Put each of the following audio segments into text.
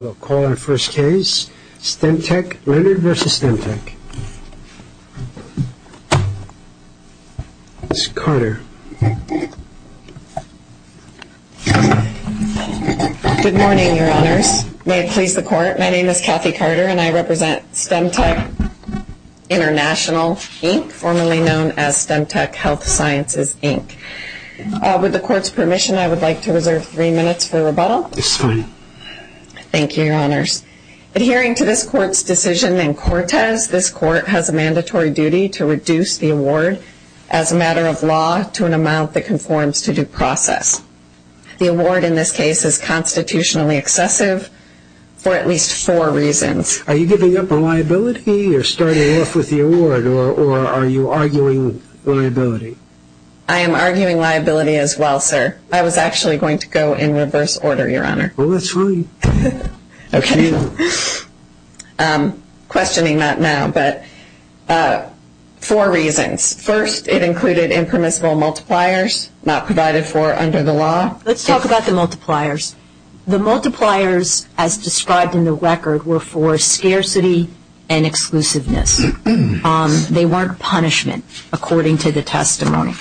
We'll call our first case, Stemtech, Leonard v. Stemtech. Ms. Carter. Good morning, Your Honors. May it please the Court, my name is Kathy Carter and I represent Stemtech International Inc., formerly known as Stemtech Health Sciences Inc. With the Court's permission, I would like to reserve three minutes for rebuttal. It's fine. Thank you, Your Honors. Adhering to this Court's decision in Cortez, this Court has a mandatory duty to reduce the award as a matter of law to an amount that conforms to due process. The award in this case is constitutionally excessive for at least four reasons. Are you giving up a liability or starting off with the award or are you arguing liability? I am arguing liability as well, sir. I was actually going to go in reverse order, Your Honor. Well, that's fine. Okay. Questioning that now, but four reasons. First, it included impermissible multipliers not provided for under the law. Let's talk about the multipliers. The multipliers, as described in the record, were for scarcity and exclusiveness. They weren't punishment, according to the testimony.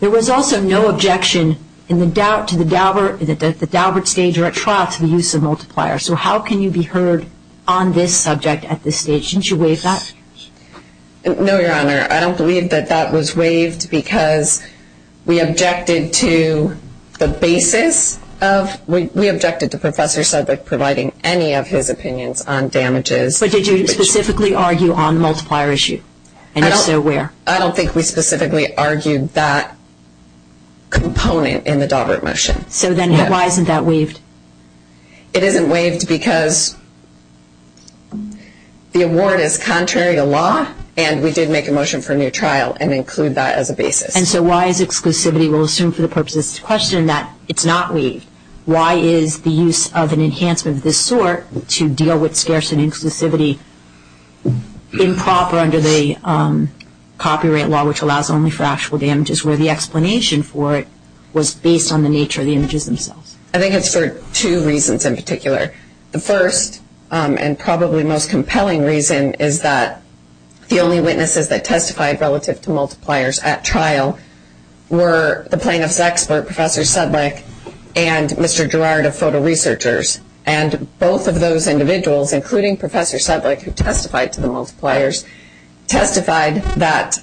There was also no objection in the doubt to the Daubert stage or at trial to the use of multipliers. So how can you be heard on this subject at this stage? Didn't you waive that? No, Your Honor. I don't believe that that was waived because we objected to the basis of, we objected to Professor Sedlick providing any of his opinions on damages. But did you specifically argue on the multiplier issue? And if so, where? I don't think we specifically argued that component in the Daubert motion. So then why isn't that waived? It isn't waived because the award is contrary to law, and we did make a motion for a new trial and include that as a basis. And so why is exclusivity? We'll assume for the purposes of this question that it's not waived. Why is the use of an enhancement of this sort to deal with scarcity and exclusivity improper under the copyright law, which allows only for actual damages, where the explanation for it was based on the nature of the images themselves? I think it's for two reasons in particular. The first, and probably the most compelling reason, is that the only witnesses that testified relative to multipliers at trial were the plaintiff's expert, Professor Sedlick, and Mr. Gerard of Photo Researchers. And both of those individuals, including Professor Sedlick, who testified to the multipliers, testified that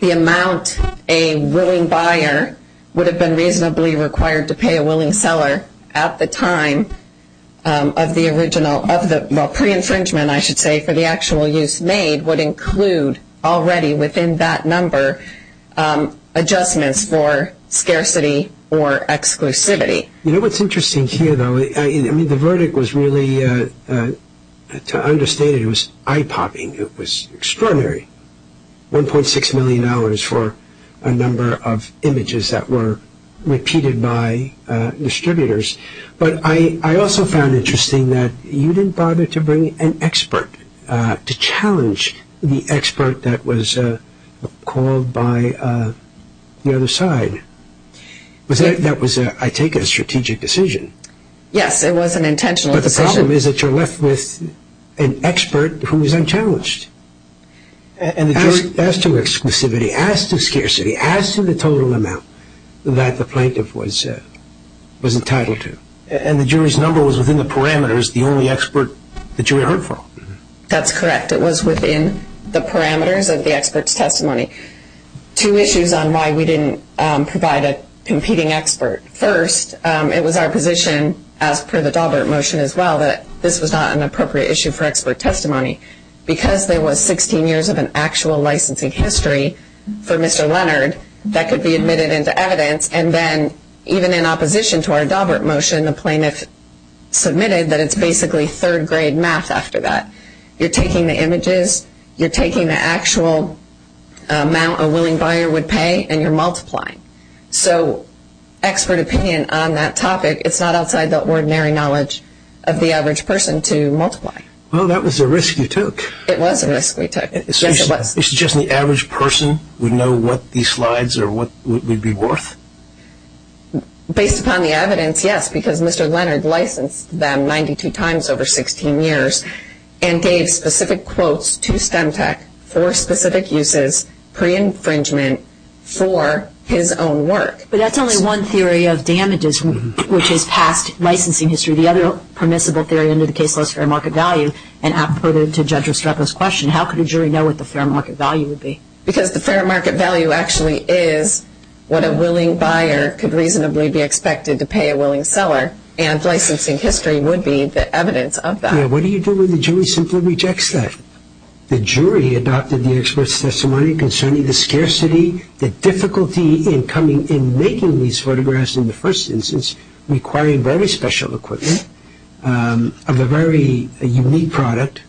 the amount a willing buyer would have been reasonably required to pay a willing seller at the time of the original, of the pre-infringement, I should say, for the actual use made, would include already within that number adjustments for scarcity or exclusivity. You know what's interesting here, though? I mean, the verdict was really, to understand it, it was eye-popping. It was extraordinary. $1.6 million for a number of images that were repeated by distributors. But I also found interesting that you didn't bother to bring an expert to challenge the expert that was called by the other side. That was, I take, a strategic decision. Yes, it was an intentional decision. But the problem is that you're left with an expert who was unchallenged. As to exclusivity, as to scarcity, as to the total amount that the plaintiff was entitled to. And the jury's number was within the parameters, the only expert the jury heard from. That's correct. It was within the parameters of the expert's testimony. Two issues on why we didn't provide a competing expert. First, it was our position, as per the Daubert motion as well, that this was not an appropriate issue for expert testimony. Because there was 16 years of an actual licensing history for Mr. Leonard that could be admitted into evidence, and then even in opposition to our Daubert motion, the plaintiff submitted that it's basically third-grade math after that. You're taking the images, you're taking the actual amount a willing buyer would pay, and you're multiplying. So expert opinion on that topic, it's not outside the ordinary knowledge of the average person to multiply. Well, that was a risk you took. It was a risk we took. Yes, it was. So just the average person would know what these slides would be worth? Based upon the evidence, yes. Because Mr. Leonard licensed them 92 times over 16 years. And gave specific quotes to STEMTAC for specific uses, pre-infringement for his own work. But that's only one theory of damages, which is past licensing history. The other permissible theory under the case was fair market value. And I put it to Judge Restrepo's question, how could a jury know what the fair market value would be? Because the fair market value actually is what a willing buyer could reasonably be expected to pay a willing seller. And licensing history would be the evidence of that. What do you do when the jury simply rejects that? The jury adopted the expert's testimony concerning the scarcity, the difficulty in making these photographs in the first instance, requiring very special equipment of a very unique product,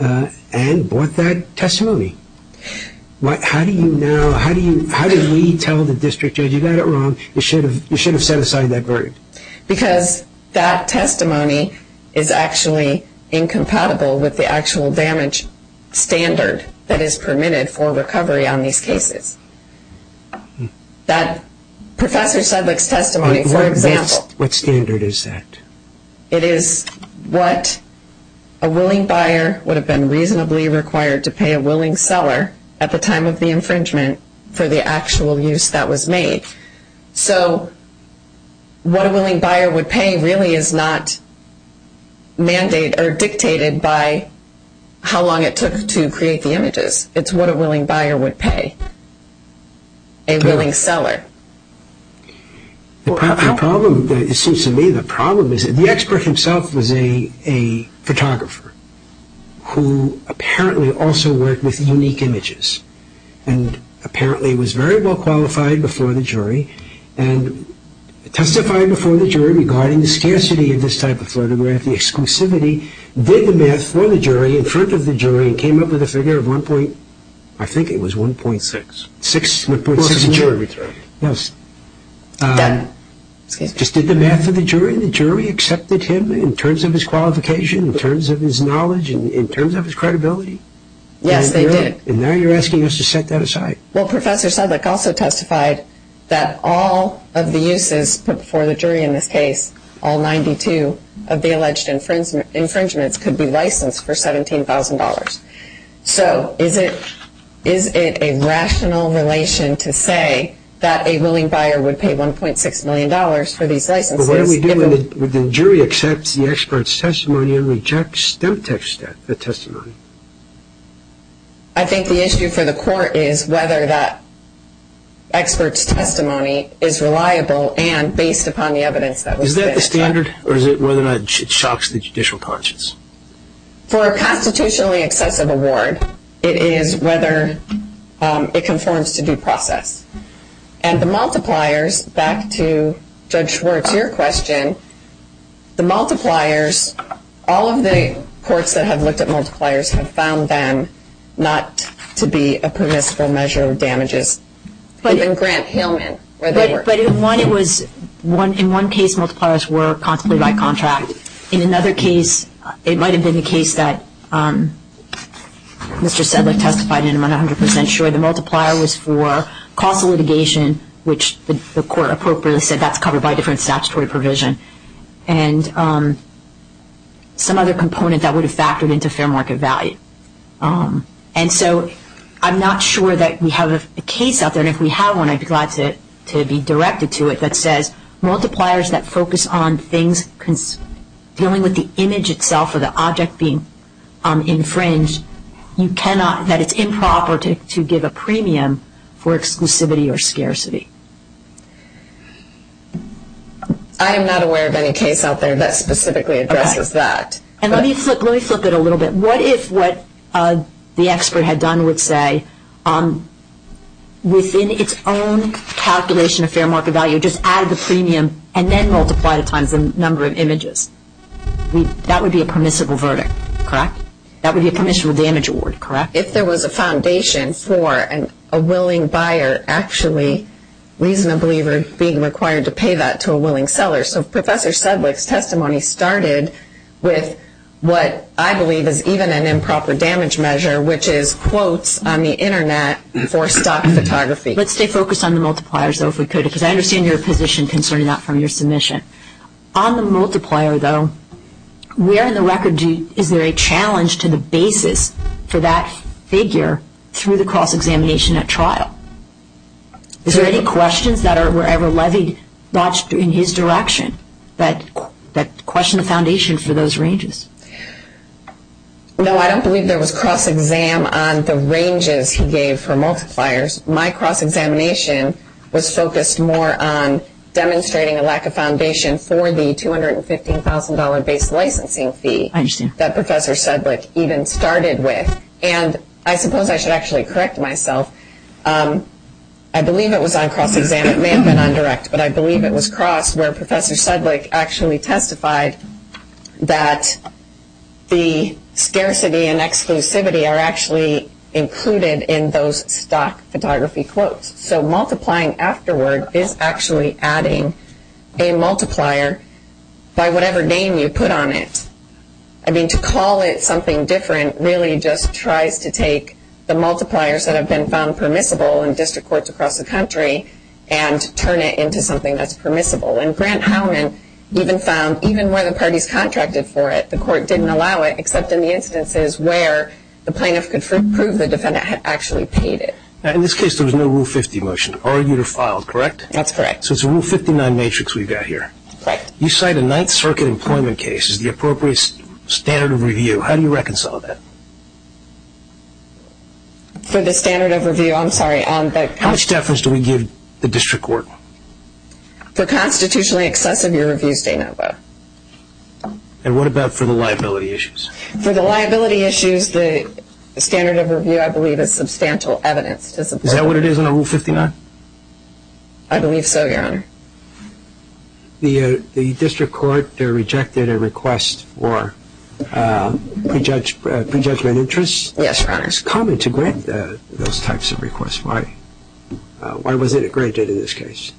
and bought that testimony. How do we tell the district judge, you got it wrong, you should have set aside that verdict? Because that testimony is actually incompatible with the actual damage standard that is permitted for recovery on these cases. Professor Sedlick's testimony, for example. What standard is that? It is what a willing buyer would have been reasonably required to pay a willing seller at the time of the infringement for the actual use that was made. So, what a willing buyer would pay really is not dictated by how long it took to create the images. It is what a willing buyer would pay a willing seller. The problem, it seems to me, the problem is that the expert himself was a photographer who apparently also worked with unique images. And apparently was very well qualified before the jury and testified before the jury regarding the scarcity of this type of photograph, the exclusivity, did the math for the jury in front of the jury and came up with a figure of 1.6, I think it was 1.6. Yes. Done. Just did the math for the jury and the jury accepted him in terms of his qualification, in terms of his knowledge, in terms of his credibility? Yes, they did. And now you're asking us to set that aside. Well, Professor Sedlak also testified that all of the uses put before the jury in this case, all 92 of the alleged infringements could be licensed for $17,000. So, is it a rational relation to say that a willing buyer would pay $1.6 million for these licenses? Well, what do we do when the jury accepts the expert's testimony and rejects the testimony? I think the issue for the court is whether that expert's testimony is reliable and based upon the evidence that was fixed. Is that the standard, or is it whether or not it shocks the judicial conscience? For a constitutionally excessive award, it is whether it conforms to due process. And the multipliers, back to Judge Schwartz, your question, the multipliers, all of the courts that have looked at multipliers have found them not to be a permissible measure of damages. Even Grant-Hillman, where they were. But in one case, multipliers were contemplated by contract. In another case, it might have been the case that Mr. Sedlak testified in, I'm not 100% sure. The multiplier was for causal litigation, which the court appropriately said that's covered by a different statutory provision. And some other component that would have factored into fair market value. And so I'm not sure that we have a case out there. And if we have one, I'd be glad to be directed to it that says, multipliers that focus on things dealing with the image itself or the object being infringed, you cannot, that it's improper to give a premium for exclusivity or scarcity. I am not aware of any case out there that specifically addresses that. Okay. And let me flip it a little bit. What if what the expert had done would say, within its own calculation of fair market value, just add the premium and then multiply it times the number of images? That would be a permissible verdict, correct? That would be a permissible damage award, correct? If there was a foundation for a willing buyer actually reasonably being required to pay that to a willing seller. So Professor Sedlak's testimony started with what I believe is even an improper damage measure, which is quotes on the Internet for stock photography. Let's stay focused on the multipliers, though, if we could. Because I understand your position concerning that from your submission. On the multiplier, though, where in the record is there a challenge to the basis for that figure through the cross-examination at trial? Is there any questions that were ever levied in his direction that question the foundation for those ranges? No, I don't believe there was cross-exam on the ranges he gave for multipliers. My cross-examination was focused more on demonstrating a lack of foundation for the $215,000 base licensing fee that Professor Sedlak even started with. And I suppose I should actually correct myself. I believe it was on cross-exam, it may have been on direct, but I believe it was cross where Professor Sedlak actually testified that the scarcity and exclusivity are actually included in those stock photography quotes. So multiplying afterward is actually adding a multiplier by whatever name you put on it. I mean, to call it something different really just tries to take the multipliers that have been found permissible in district courts across the country and turn it into something that's permissible. And Grant Howman even found, even where the parties contracted for it, the court didn't allow it except in the instances where the plaintiff could prove the defendant had actually paid it. In this case, there was no Rule 50 motion. Argued or filed, correct? That's correct. So it's a Rule 59 matrix we've got here. Correct. You cite a Ninth Circuit employment case as the appropriate standard of review. How do you reconcile that? For the standard of review, I'm sorry. How much deference do we give the district court? For constitutionally excessive, your review's de novo. And what about for the liability issues? For the liability issues, the standard of review, I believe, is substantial evidence. Is that what it is under Rule 59? I believe so, Your Honor. The district court rejected a request for prejudgment interest? Yes, Your Honor. It's common to grant those types of requests. Why was it granted in this case?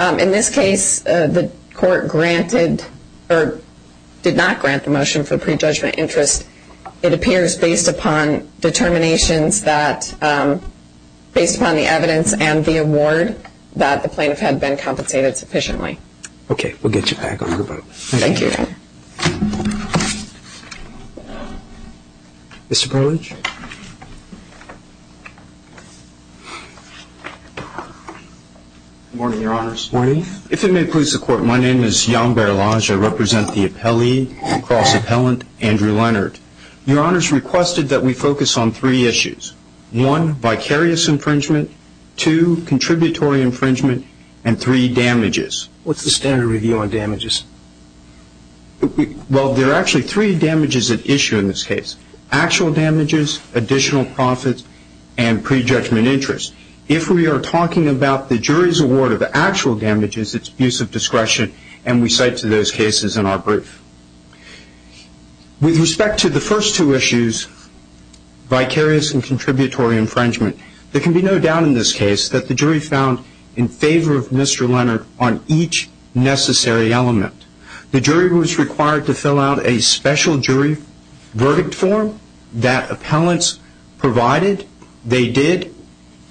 In this case, the court granted or did not grant the motion for prejudgment interest. It appears based upon determinations that, based upon the evidence and the award, that the plaintiff had been compensated sufficiently. Okay. We'll get you back on your boat. Thank you, Your Honor. Mr. Burlage? Good morning, Your Honors. Good morning. If it may please the Court, my name is Jan Burlage. I represent the appellee, the cross-appellant, Andrew Leonard. Your Honors requested that we focus on three issues. One, vicarious infringement. Two, contributory infringement. And three, damages. What's the standard review on damages? Well, there are actually three damages at issue in this case, actual damages, additional profits, and prejudgment interest. If we are talking about the jury's award of the actual damages, it's abuse of discretion, and we cite to those cases in our brief. With respect to the first two issues, vicarious and contributory infringement, there can be no doubt in this case that the jury found in favor of Mr. Leonard on each necessary element. The jury was required to fill out a special jury verdict form that appellants provided, they did,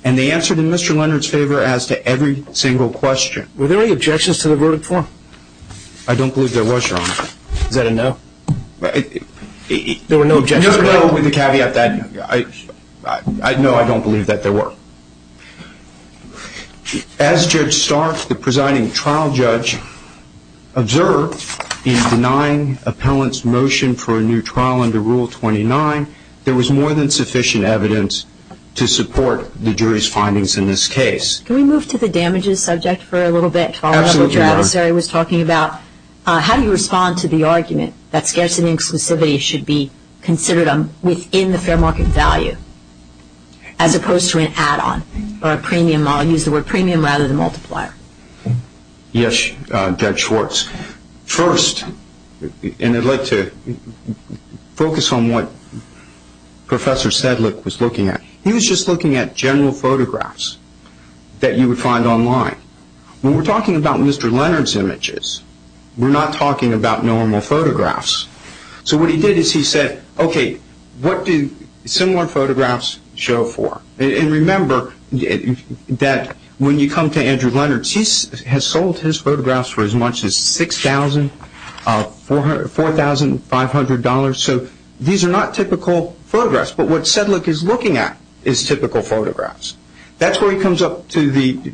and they answered in Mr. Leonard's favor as to every single question. Were there any objections to the verdict form? I don't believe there was, Your Honor. Is that a no? There were no objections. No, I don't believe that there were. As Judge Stark, the presiding trial judge, observed in denying appellants' motion for a new trial under Rule 29, there was more than sufficient evidence to support the jury's findings in this case. Can we move to the damages subject for a little bit? Absolutely, Your Honor. I'm sorry, I was talking about how do you respond to the argument that scarcity and exclusivity should be considered within the fair market value as opposed to an add-on or a premium? I'll use the word premium rather than multiplier. Yes, Judge Schwartz. First, and I'd like to focus on what Professor Sedlick was looking at, he was just looking at general photographs that you would find online. When we're talking about Mr. Leonard's images, we're not talking about normal photographs. So what he did is he said, okay, what do similar photographs show for? And remember that when you come to Andrew Leonard's, he has sold his photographs for as much as $6,000, $4,500. So these are not typical photographs. But what Sedlick is looking at is typical photographs. That's where he comes up to the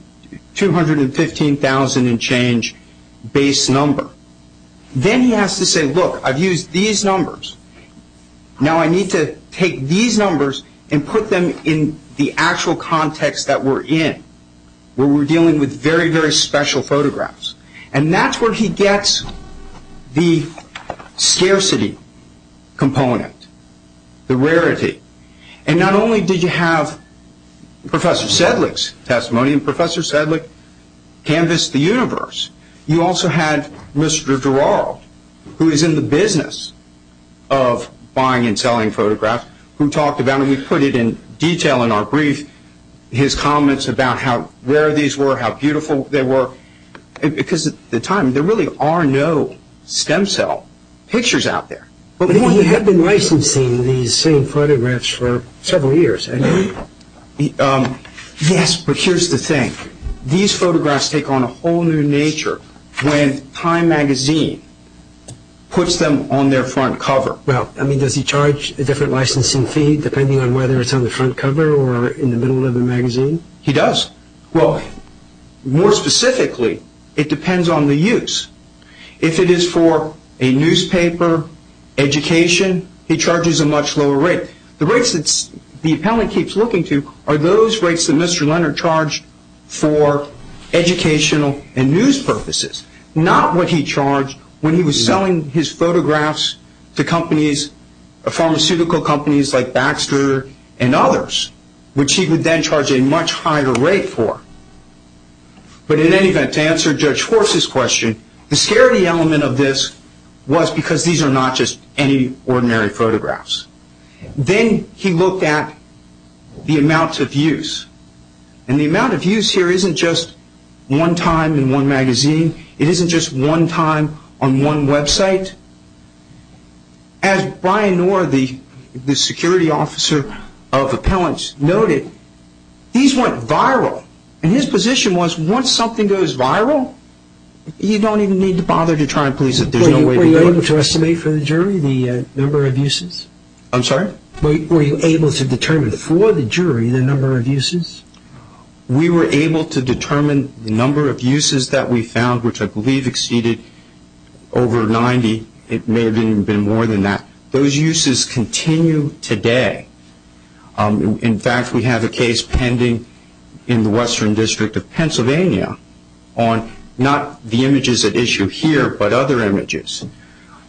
$215,000 and change base number. Then he has to say, look, I've used these numbers. Now I need to take these numbers and put them in the actual context that we're in, where we're dealing with very, very special photographs. And that's where he gets the scarcity component, the rarity. And not only did you have Professor Sedlick's testimony, and Professor Sedlick canvassed the universe, you also had Mr. Duraro, who is in the business of buying and selling photographs, who talked about it, and we put it in detail in our brief, his comments about where these were, how beautiful they were. Because at the time, there really are no stem cell pictures out there. Well, you have been licensing these same photographs for several years. Yes, but here's the thing. These photographs take on a whole new nature when Time magazine puts them on their front cover. Well, I mean, does he charge a different licensing fee, depending on whether it's on the front cover or in the middle of the magazine? He does. Well, more specifically, it depends on the use. If it is for a newspaper, education, he charges a much lower rate. The rates that the appellate keeps looking to are those rates that Mr. Leonard charged for educational and news purposes, not what he charged when he was selling his photographs to pharmaceutical companies like Baxter and others, which he would then charge a much higher rate for. But in any event, to answer Judge Horst's question, the scary element of this was because these are not just any ordinary photographs. Then he looked at the amounts of use. And the amount of use here isn't just one time in one magazine. It isn't just one time on one website. As Brian Noor, the security officer of appellants, noted, these went viral. And his position was once something goes viral, you don't even need to bother to try and police it. Were you able to estimate for the jury the number of uses? I'm sorry? Were you able to determine for the jury the number of uses? We were able to determine the number of uses that we found, which I believe exceeded over 90. It may have even been more than that. Those uses continue today. In fact, we have a case pending in the Western District of Pennsylvania on not the images at issue here, but other images.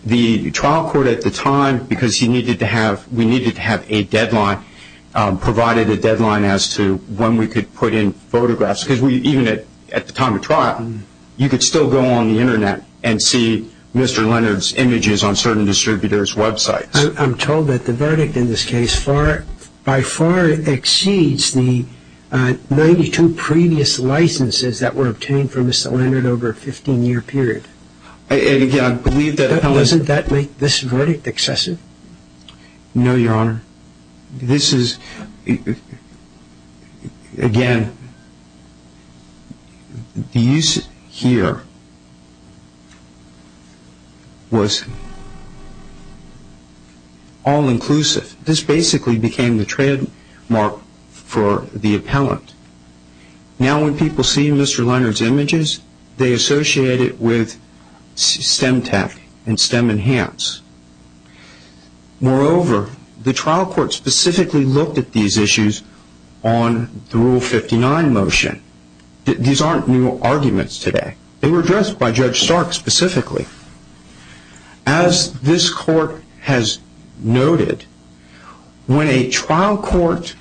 The trial court at the time, because we needed to have a deadline, provided a deadline as to when we could put in photographs. Because even at the time of trial, you could still go on the Internet and see Mr. Leonard's images on certain distributors' websites. I'm told that the verdict in this case by far exceeds the 92 previous licenses that were obtained for Mr. Leonard over a 15-year period. And again, I believe that appellant... Doesn't that make this verdict excessive? No, Your Honor. This is, again, the use here was all-inclusive. This basically became the trademark for the appellant. Now when people see Mr. Leonard's images, they associate it with STEM tech and STEM Enhance. Moreover, the trial court specifically looked at these issues on the Rule 59 motion. These aren't new arguments today. They were addressed by Judge Stark specifically. As this court has noted, when a trial court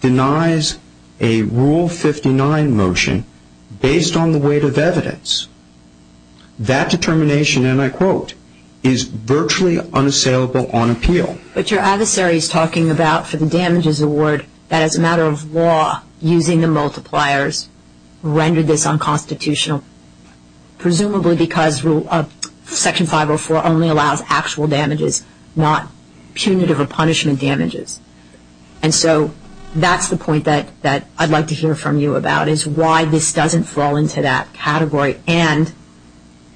denies a Rule 59 motion based on the weight of evidence, that determination, and I quote, is virtually unassailable on appeal. But your adversary is talking about, for the damages award, that as a matter of law, using the multipliers rendered this unconstitutional, presumably because Section 504 only allows actual damages, not punitive or punishment damages. And so that's the point that I'd like to hear from you about is why this doesn't fall into that category and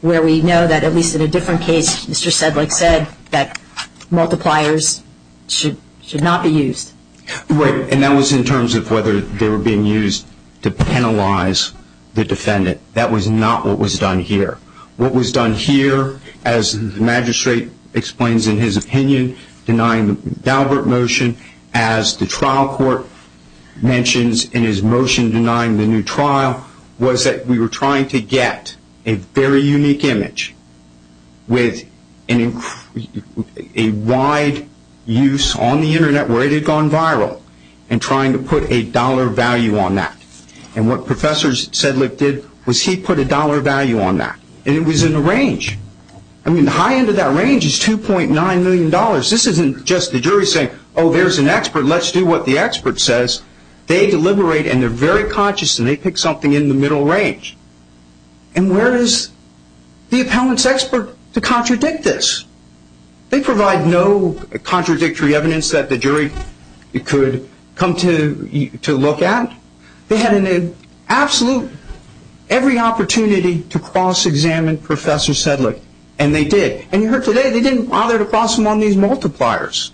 where we know that, at least in a different case, Mr. Sedlik said that multipliers should not be used. Right, and that was in terms of whether they were being used to penalize the defendant. That was not what was done here. What was done here, as the magistrate explains in his opinion, denying the Daubert motion, as the trial court mentions in his motion denying the new trial, was that we were trying to get a very unique image with a wide use on the Internet where it had gone viral and trying to put a dollar value on that. And what Professor Sedlik did was he put a dollar value on that. And it was in a range. I mean, the high end of that range is $2.9 million. This isn't just the jury saying, oh, there's an expert, let's do what the expert says. They deliberate and they're very conscious and they pick something in the middle range. And where is the appellant's expert to contradict this? They provide no contradictory evidence that the jury could come to look at. They had an absolute, every opportunity to cross-examine Professor Sedlik. And they did. And you heard today, they didn't bother to cross him on these multipliers.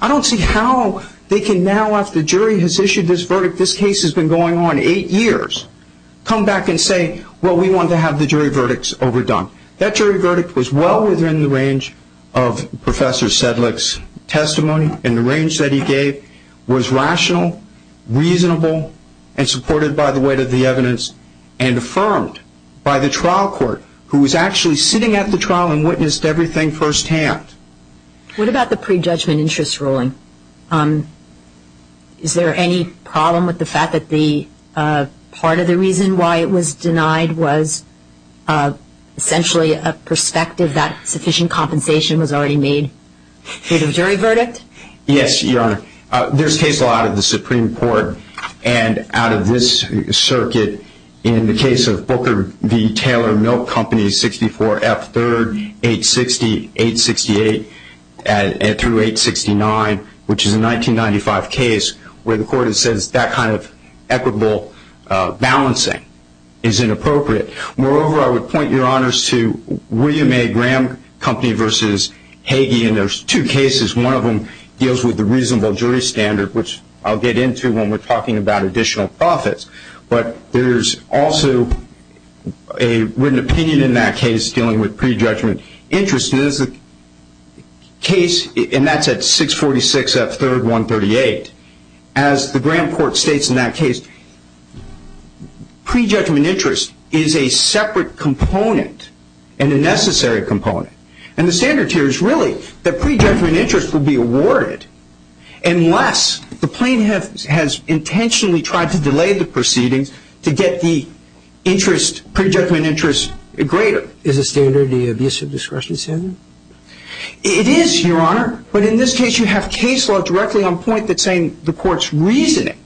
I don't see how they can now, after the jury has issued this verdict, this case has been going on eight years, come back and say, well, we want to have the jury verdicts overdone. That jury verdict was well within the range of Professor Sedlik's testimony and the range that he gave was rational, reasonable, and supported by the weight of the evidence and affirmed by the trial court, who was actually sitting at the trial and witnessed everything firsthand. What about the prejudgment interest ruling? Is there any problem with the fact that part of the reason why it was denied was essentially a perspective that sufficient compensation was already made? Is it a jury verdict? Yes, Your Honor. There's case law out of the Supreme Court and out of this circuit. In the case of Booker v. Taylor Milk Company, 64F 3rd, 860, 868 through 869, which is a 1995 case where the court says that kind of equitable balancing is inappropriate. Moreover, I would point, Your Honors, to William A. Graham Company v. Hagee, and there's two cases. One of them deals with the reasonable jury standard, which I'll get into when we're talking about additional profits, but there's also a written opinion in that case dealing with prejudgment interest. There's a case, and that's at 646F 3rd, 138. As the Graham Court states in that case, prejudgment interest is a separate component and a necessary component, and the standard here is really that prejudgment interest will be awarded unless the plaintiff has intentionally tried to delay the proceedings to get the prejudgment interest greater. Is the standard the abusive discretion standard? It is, Your Honor, but in this case you have case law directly on point that's saying the court's reasoning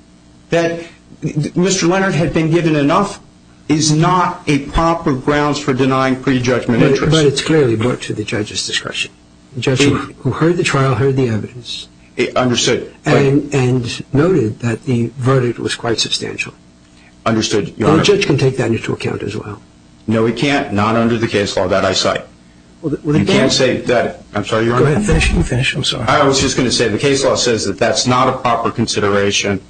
that Mr. Leonard had been given enough is not a proper grounds for denying prejudgment interest. But it's clearly brought to the judge's discretion. The judge who heard the trial heard the evidence. Understood. And noted that the verdict was quite substantial. Understood, Your Honor. The judge can take that into account as well. No, he can't, not under the case law that I cite. You can't say that. I'm sorry, Your Honor. Go ahead, finish. I was just going to say the case law says that that's not a proper consideration.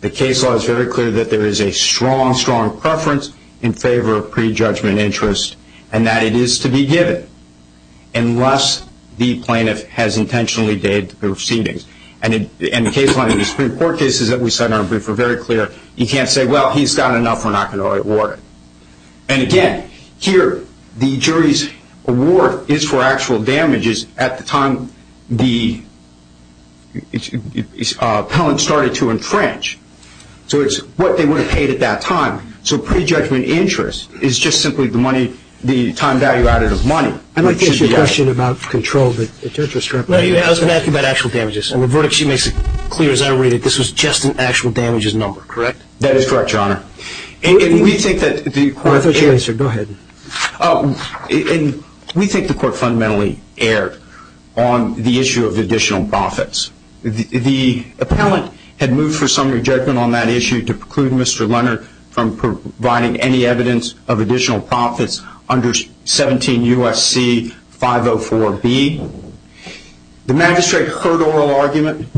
The case law is very clear that there is a strong, strong preference in favor of prejudgment interest and that it is to be given unless the plaintiff has intentionally delayed the proceedings. And the case law in the Supreme Court cases that we cite in our brief are very clear. You can't say, well, he's got enough, we're not going to award it. And again, here the jury's award is for actual damages at the time the appellant started to entrench. So it's what they would have paid at that time. So prejudgment interest is just simply the time value added of money. I'd like to ask you a question about control that the judge was trying to provide. I was going to ask you about actual damages. And the verdict sheet makes it clear as I read it, this was just an actual damages number, correct? That is correct, Your Honor. I thought you answered. Go ahead. We think the court fundamentally erred on the issue of additional profits. The appellant had moved for summary judgment on that issue to preclude Mr. Leonard from providing any evidence of additional profits under 17 U.S.C. 504B. The magistrate heard oral argument.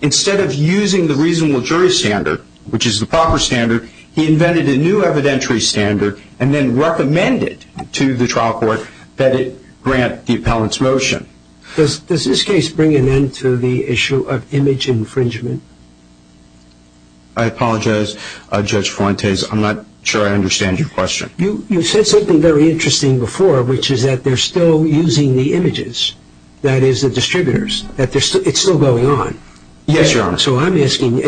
Instead of using the reasonable jury standard, which is the proper standard, he invented a new evidentiary standard and then recommended to the trial court that it grant the appellant's motion. Does this case bring an end to the issue of image infringement? I apologize, Judge Fuentes. I'm not sure I understand your question. You said something very interesting before, which is that they're still using the images, that is the distributors, that it's still going on. Yes, Your Honor. So I'm asking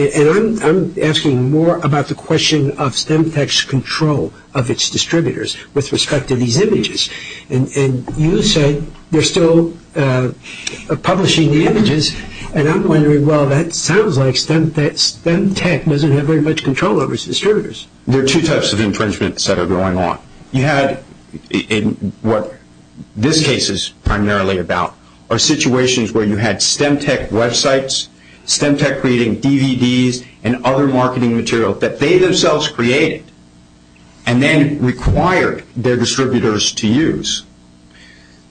more about the question of Stemtech's control of its distributors with respect to these images. And you said they're still publishing the images, and I'm wondering, well, that sounds like Stemtech doesn't have very much control over its distributors. There are two types of infringements that are going on. You had what this case is primarily about are situations where you had Stemtech websites, Stemtech creating DVDs and other marketing material that they themselves created and then required their distributors to use.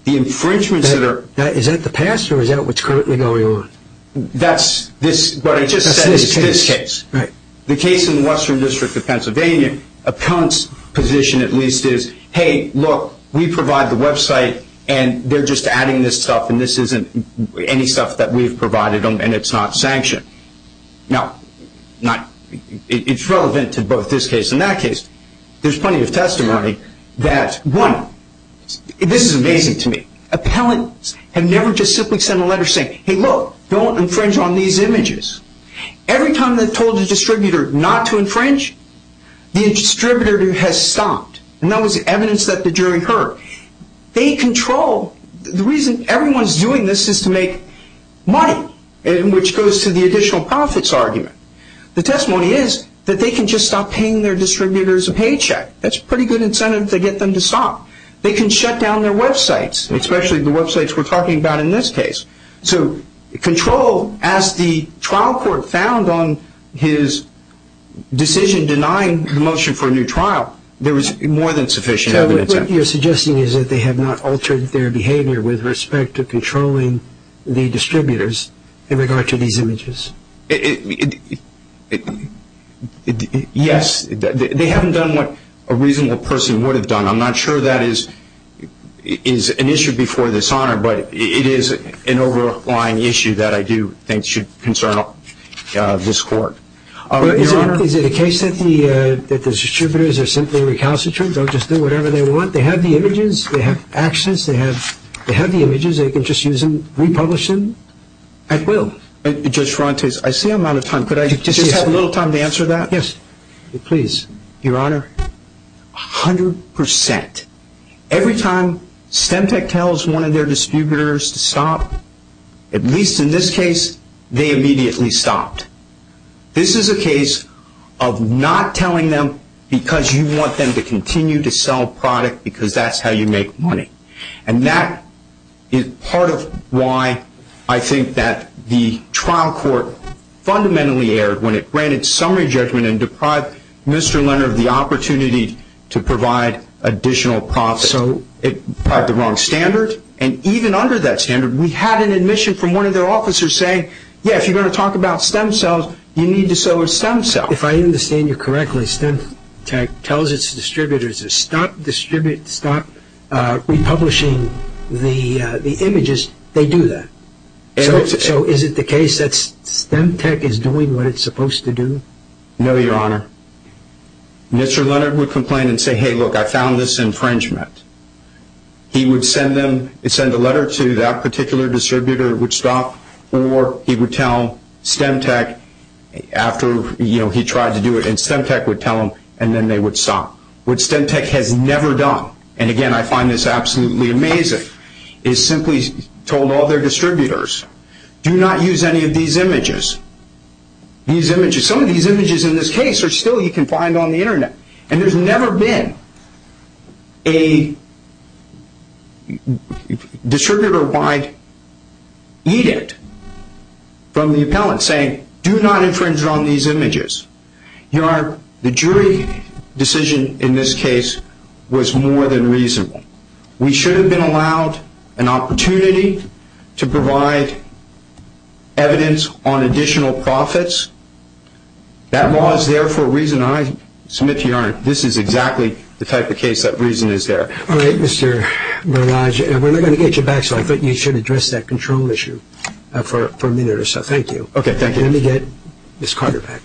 The infringements that are – Is that the past or is that what's currently going on? That's this – what I just said is this case. Right. The case in the Western District of Pennsylvania, appellant's position at least is, hey, look, we provide the website and they're just adding this stuff and this isn't any stuff that we've provided them and it's not sanctioned. Now, it's relevant to both this case and that case. There's plenty of testimony that, one, this is amazing to me. Appellants have never just simply sent a letter saying, hey, look, don't infringe on these images. Every time they've told the distributor not to infringe, the distributor has stopped. And that was evidence that the jury heard. They control – the reason everyone's doing this is to make money, which goes to the additional profits argument. The testimony is that they can just stop paying their distributors a paycheck. That's a pretty good incentive to get them to stop. They can shut down their websites, especially the websites we're talking about in this case. So control, as the trial court found on his decision denying the motion for a new trial, there was more than sufficient evidence. So what you're suggesting is that they have not altered their behavior with respect to controlling the distributors in regard to these images? Yes. They haven't done what a reasonable person would have done. I'm not sure that is an issue before this honor, but it is an overlying issue that I do think should concern this court. Is it a case that the distributors are simply recalcitrant, don't just do whatever they want? They have the images. They have access. They have the images. They can just use them, republish them at will. Judge Frantes, I see I'm out of time. Could I just have a little time to answer that? Yes, please. Your Honor, 100%. Every time Stemtech tells one of their distributors to stop, at least in this case, they immediately stopped. This is a case of not telling them because you want them to continue to sell product because that's how you make money. And that is part of why I think that the trial court fundamentally erred when it granted summary judgment and deprived Mr. Leonard of the opportunity to provide additional profit. So it had the wrong standard. And even under that standard, we had an admission from one of their officers saying, yes, if you're going to talk about stem cells, you need to sell a stem cell. If I understand you correctly, Stemtech tells its distributors to stop republishing the images. They do that. So is it the case that Stemtech is doing what it's supposed to do? No, Your Honor. Mr. Leonard would complain and say, hey, look, I found this infringement. He would send a letter to that particular distributor, it would stop, or he would tell Stemtech after he tried to do it, and Stemtech would tell them, and then they would stop. What Stemtech has never done, and again, I find this absolutely amazing, is simply told all their distributors, do not use any of these images. Some of these images in this case are still, you can find on the Internet. And there's never been a distributor-wide edict from the appellant saying, do not infringe on these images. Your Honor, the jury decision in this case was more than reasonable. We should have been allowed an opportunity to provide evidence on additional profits. That law is there for a reason I submit to Your Honor. This is exactly the type of case that reason is there. All right, Mr. Barrage, we're not going to get you back, so I think you should address that control issue for a minute or so. Thank you. Okay, thank you. Let me get Ms. Carter back.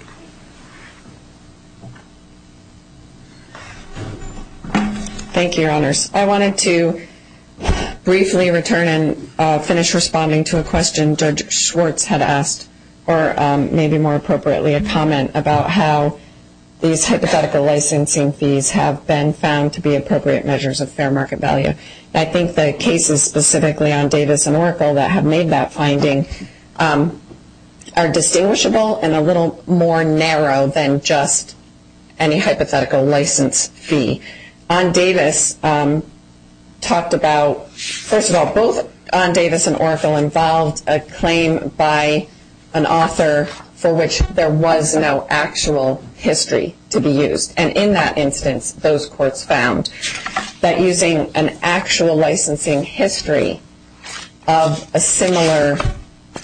Thank you, Your Honors. I wanted to briefly return and finish responding to a question Judge Schwartz had asked, or maybe more appropriately, a comment about how these hypothetical licensing fees have been found to be appropriate measures of fair market value. I think the cases specifically on Davis and Oracle that have made that finding are distinguishable and a little more narrow than just any hypothetical license fee. On Davis, talked about, first of all, both on Davis and Oracle involved a claim by an author for which there was no actual history to be used. And in that instance, those courts found that using an actual licensing history of a similar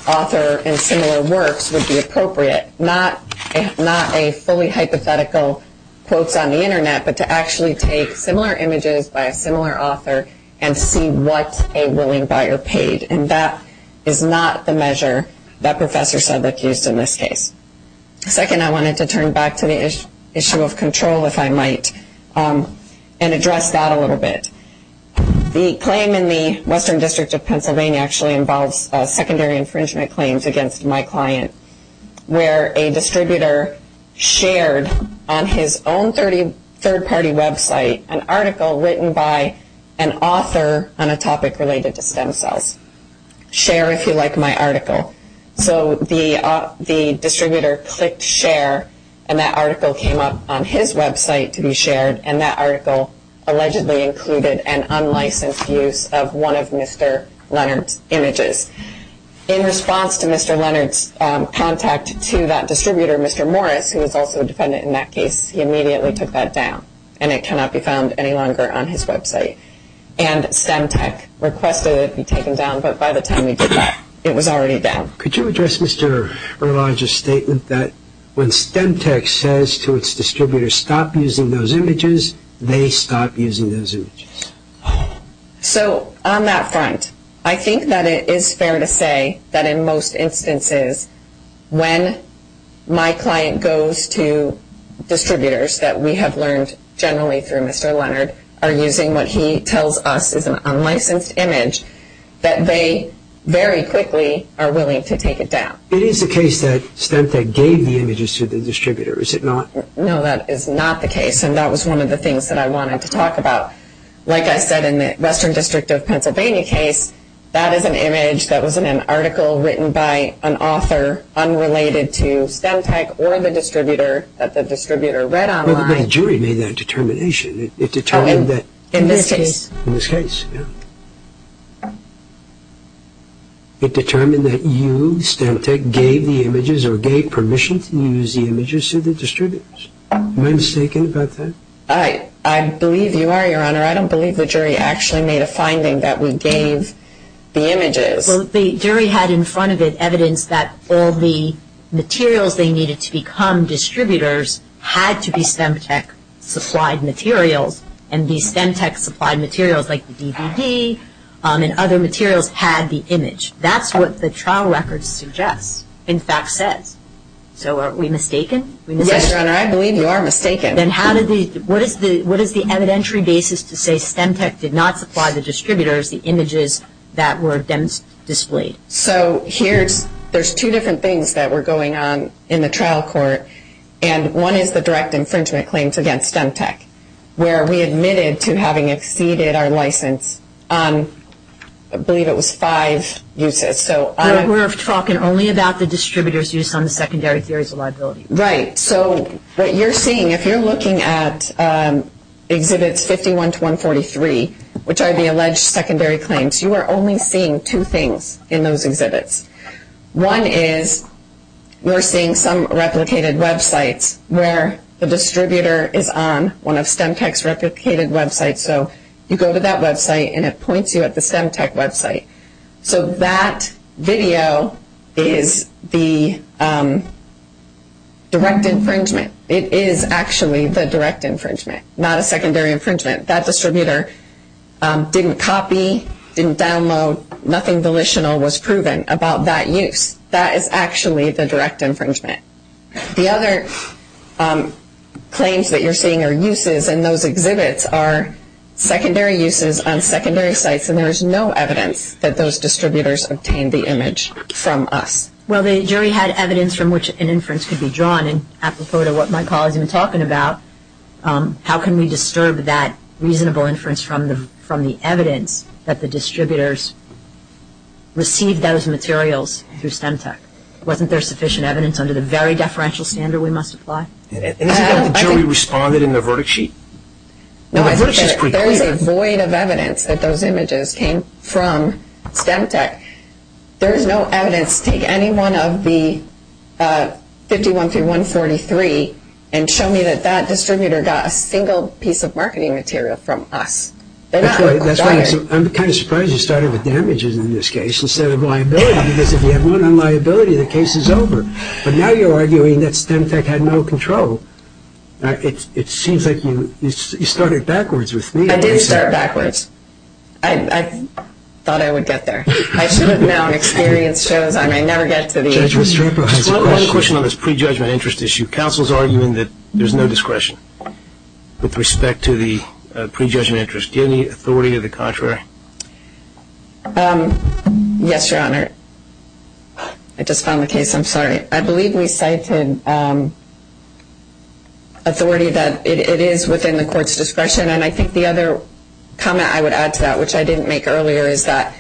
author and similar works would be appropriate, not a fully hypothetical quotes on the Internet, but to actually take similar images by a similar author and see what a willing buyer paid. And that is not the measure that Professor Sedlick used in this case. Second, I wanted to turn back to the issue of control, if I might, and address that a little bit. The claim in the Western District of Pennsylvania actually involves secondary infringement claims against my client where a distributor shared on his own third-party website an article written by an author on a topic related to stem cells. Share if you like my article. So the distributor clicked share, and that article came up on his website to be shared, and that article allegedly included an unlicensed use of one of Mr. Leonard's images. In response to Mr. Leonard's contact to that distributor, Mr. Morris, who was also a defendant in that case, he immediately took that down, and it cannot be found any longer on his website. And StemTech requested it be taken down, but by the time we did that, it was already down. Could you address Mr. Erlage's statement that when StemTech says to its distributor, stop using those images, they stop using those images? So on that front, I think that it is fair to say that in most instances when my client goes to distributors that we have learned generally through Mr. Leonard are using what he tells us is an unlicensed image, that they very quickly are willing to take it down. It is the case that StemTech gave the images to the distributor, is it not? No, that is not the case, and that was one of the things that I wanted to talk about. Like I said in the Western District of Pennsylvania case, that is an image that was in an article written by an author unrelated to StemTech or the distributor that the distributor read online. Well, the jury made that determination. In this case? In this case, yes. It determined that you, StemTech, gave the images or gave permission to use the images to the distributors. Am I mistaken about that? I believe you are, Your Honor. Well, the jury had in front of it evidence that all the materials they needed to become distributors had to be StemTech-supplied materials, and these StemTech-supplied materials, like the DVD and other materials, had the image. That is what the trial record suggests, in fact says. So are we mistaken? Yes, Your Honor, I believe you are mistaken. Then what is the evidentiary basis to say StemTech did not supply the distributors the images that were then displayed? So there are two different things that were going on in the trial court, and one is the direct infringement claims against StemTech, where we admitted to having exceeded our license on, I believe it was five uses. We are talking only about the distributors' use on the secondary theories of liability. Right. So what you are seeing, if you are looking at Exhibits 51 to 143, which are the alleged secondary claims, you are only seeing two things in those exhibits. One is you are seeing some replicated websites where the distributor is on one of StemTech's replicated websites, so you go to that website and it points you at the StemTech website. So that video is the direct infringement. It is actually the direct infringement, not a secondary infringement. That distributor didn't copy, didn't download, nothing volitional was proven about that use. That is actually the direct infringement. The other claims that you are seeing are uses, and those exhibits are secondary uses on secondary sites, and there is no evidence that those distributors obtained the image from us. Well, the jury had evidence from which an inference could be drawn, and apropos to what my colleague has been talking about, how can we disturb that reasonable inference from the evidence that the distributors received those materials through StemTech? Wasn't there sufficient evidence under the very deferential standard we must apply? Isn't that what the jury responded in the verdict sheet? No, there is a void of evidence that those images came from StemTech. There is no evidence to take any one of the 51 through 143 and show me that that distributor got a single piece of marketing material from us. I'm kind of surprised you started with damages in this case instead of liability, because if you have one on liability, the case is over. But now you are arguing that StemTech had no control. It seems like you started backwards with me. I didn't start backwards. I thought I would get there. I should have known. Experience shows I may never get to the end. One question on this prejudgment interest issue. Counsel is arguing that there is no discretion with respect to the prejudgment interest. Do you have any authority to the contrary? Yes, Your Honor. I just found the case. I'm sorry. I believe we cited authority that it is within the court's discretion, and I think the other comment I would add to that, which I didn't make earlier, is that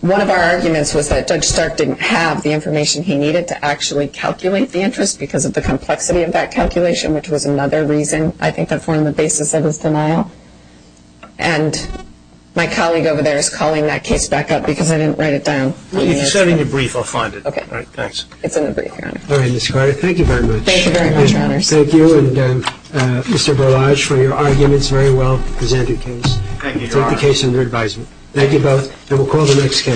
one of our arguments was that Judge Stark didn't have the information he needed to actually calculate the interest because of the complexity of that calculation, which was another reason, I think, that formed the basis of his denial. And my colleague over there is calling that case back up because I didn't write it down. It's in the brief. I'll find it. Okay. It's in the brief, Your Honor. All right, Ms. Carter. Thank you very much. Thank you very much, Your Honors. Thank you and Mr. Berlage for your arguments. Very well presented case. Thank you, Your Honor. Take the case under advisement. Thank you both, and we'll call the next case.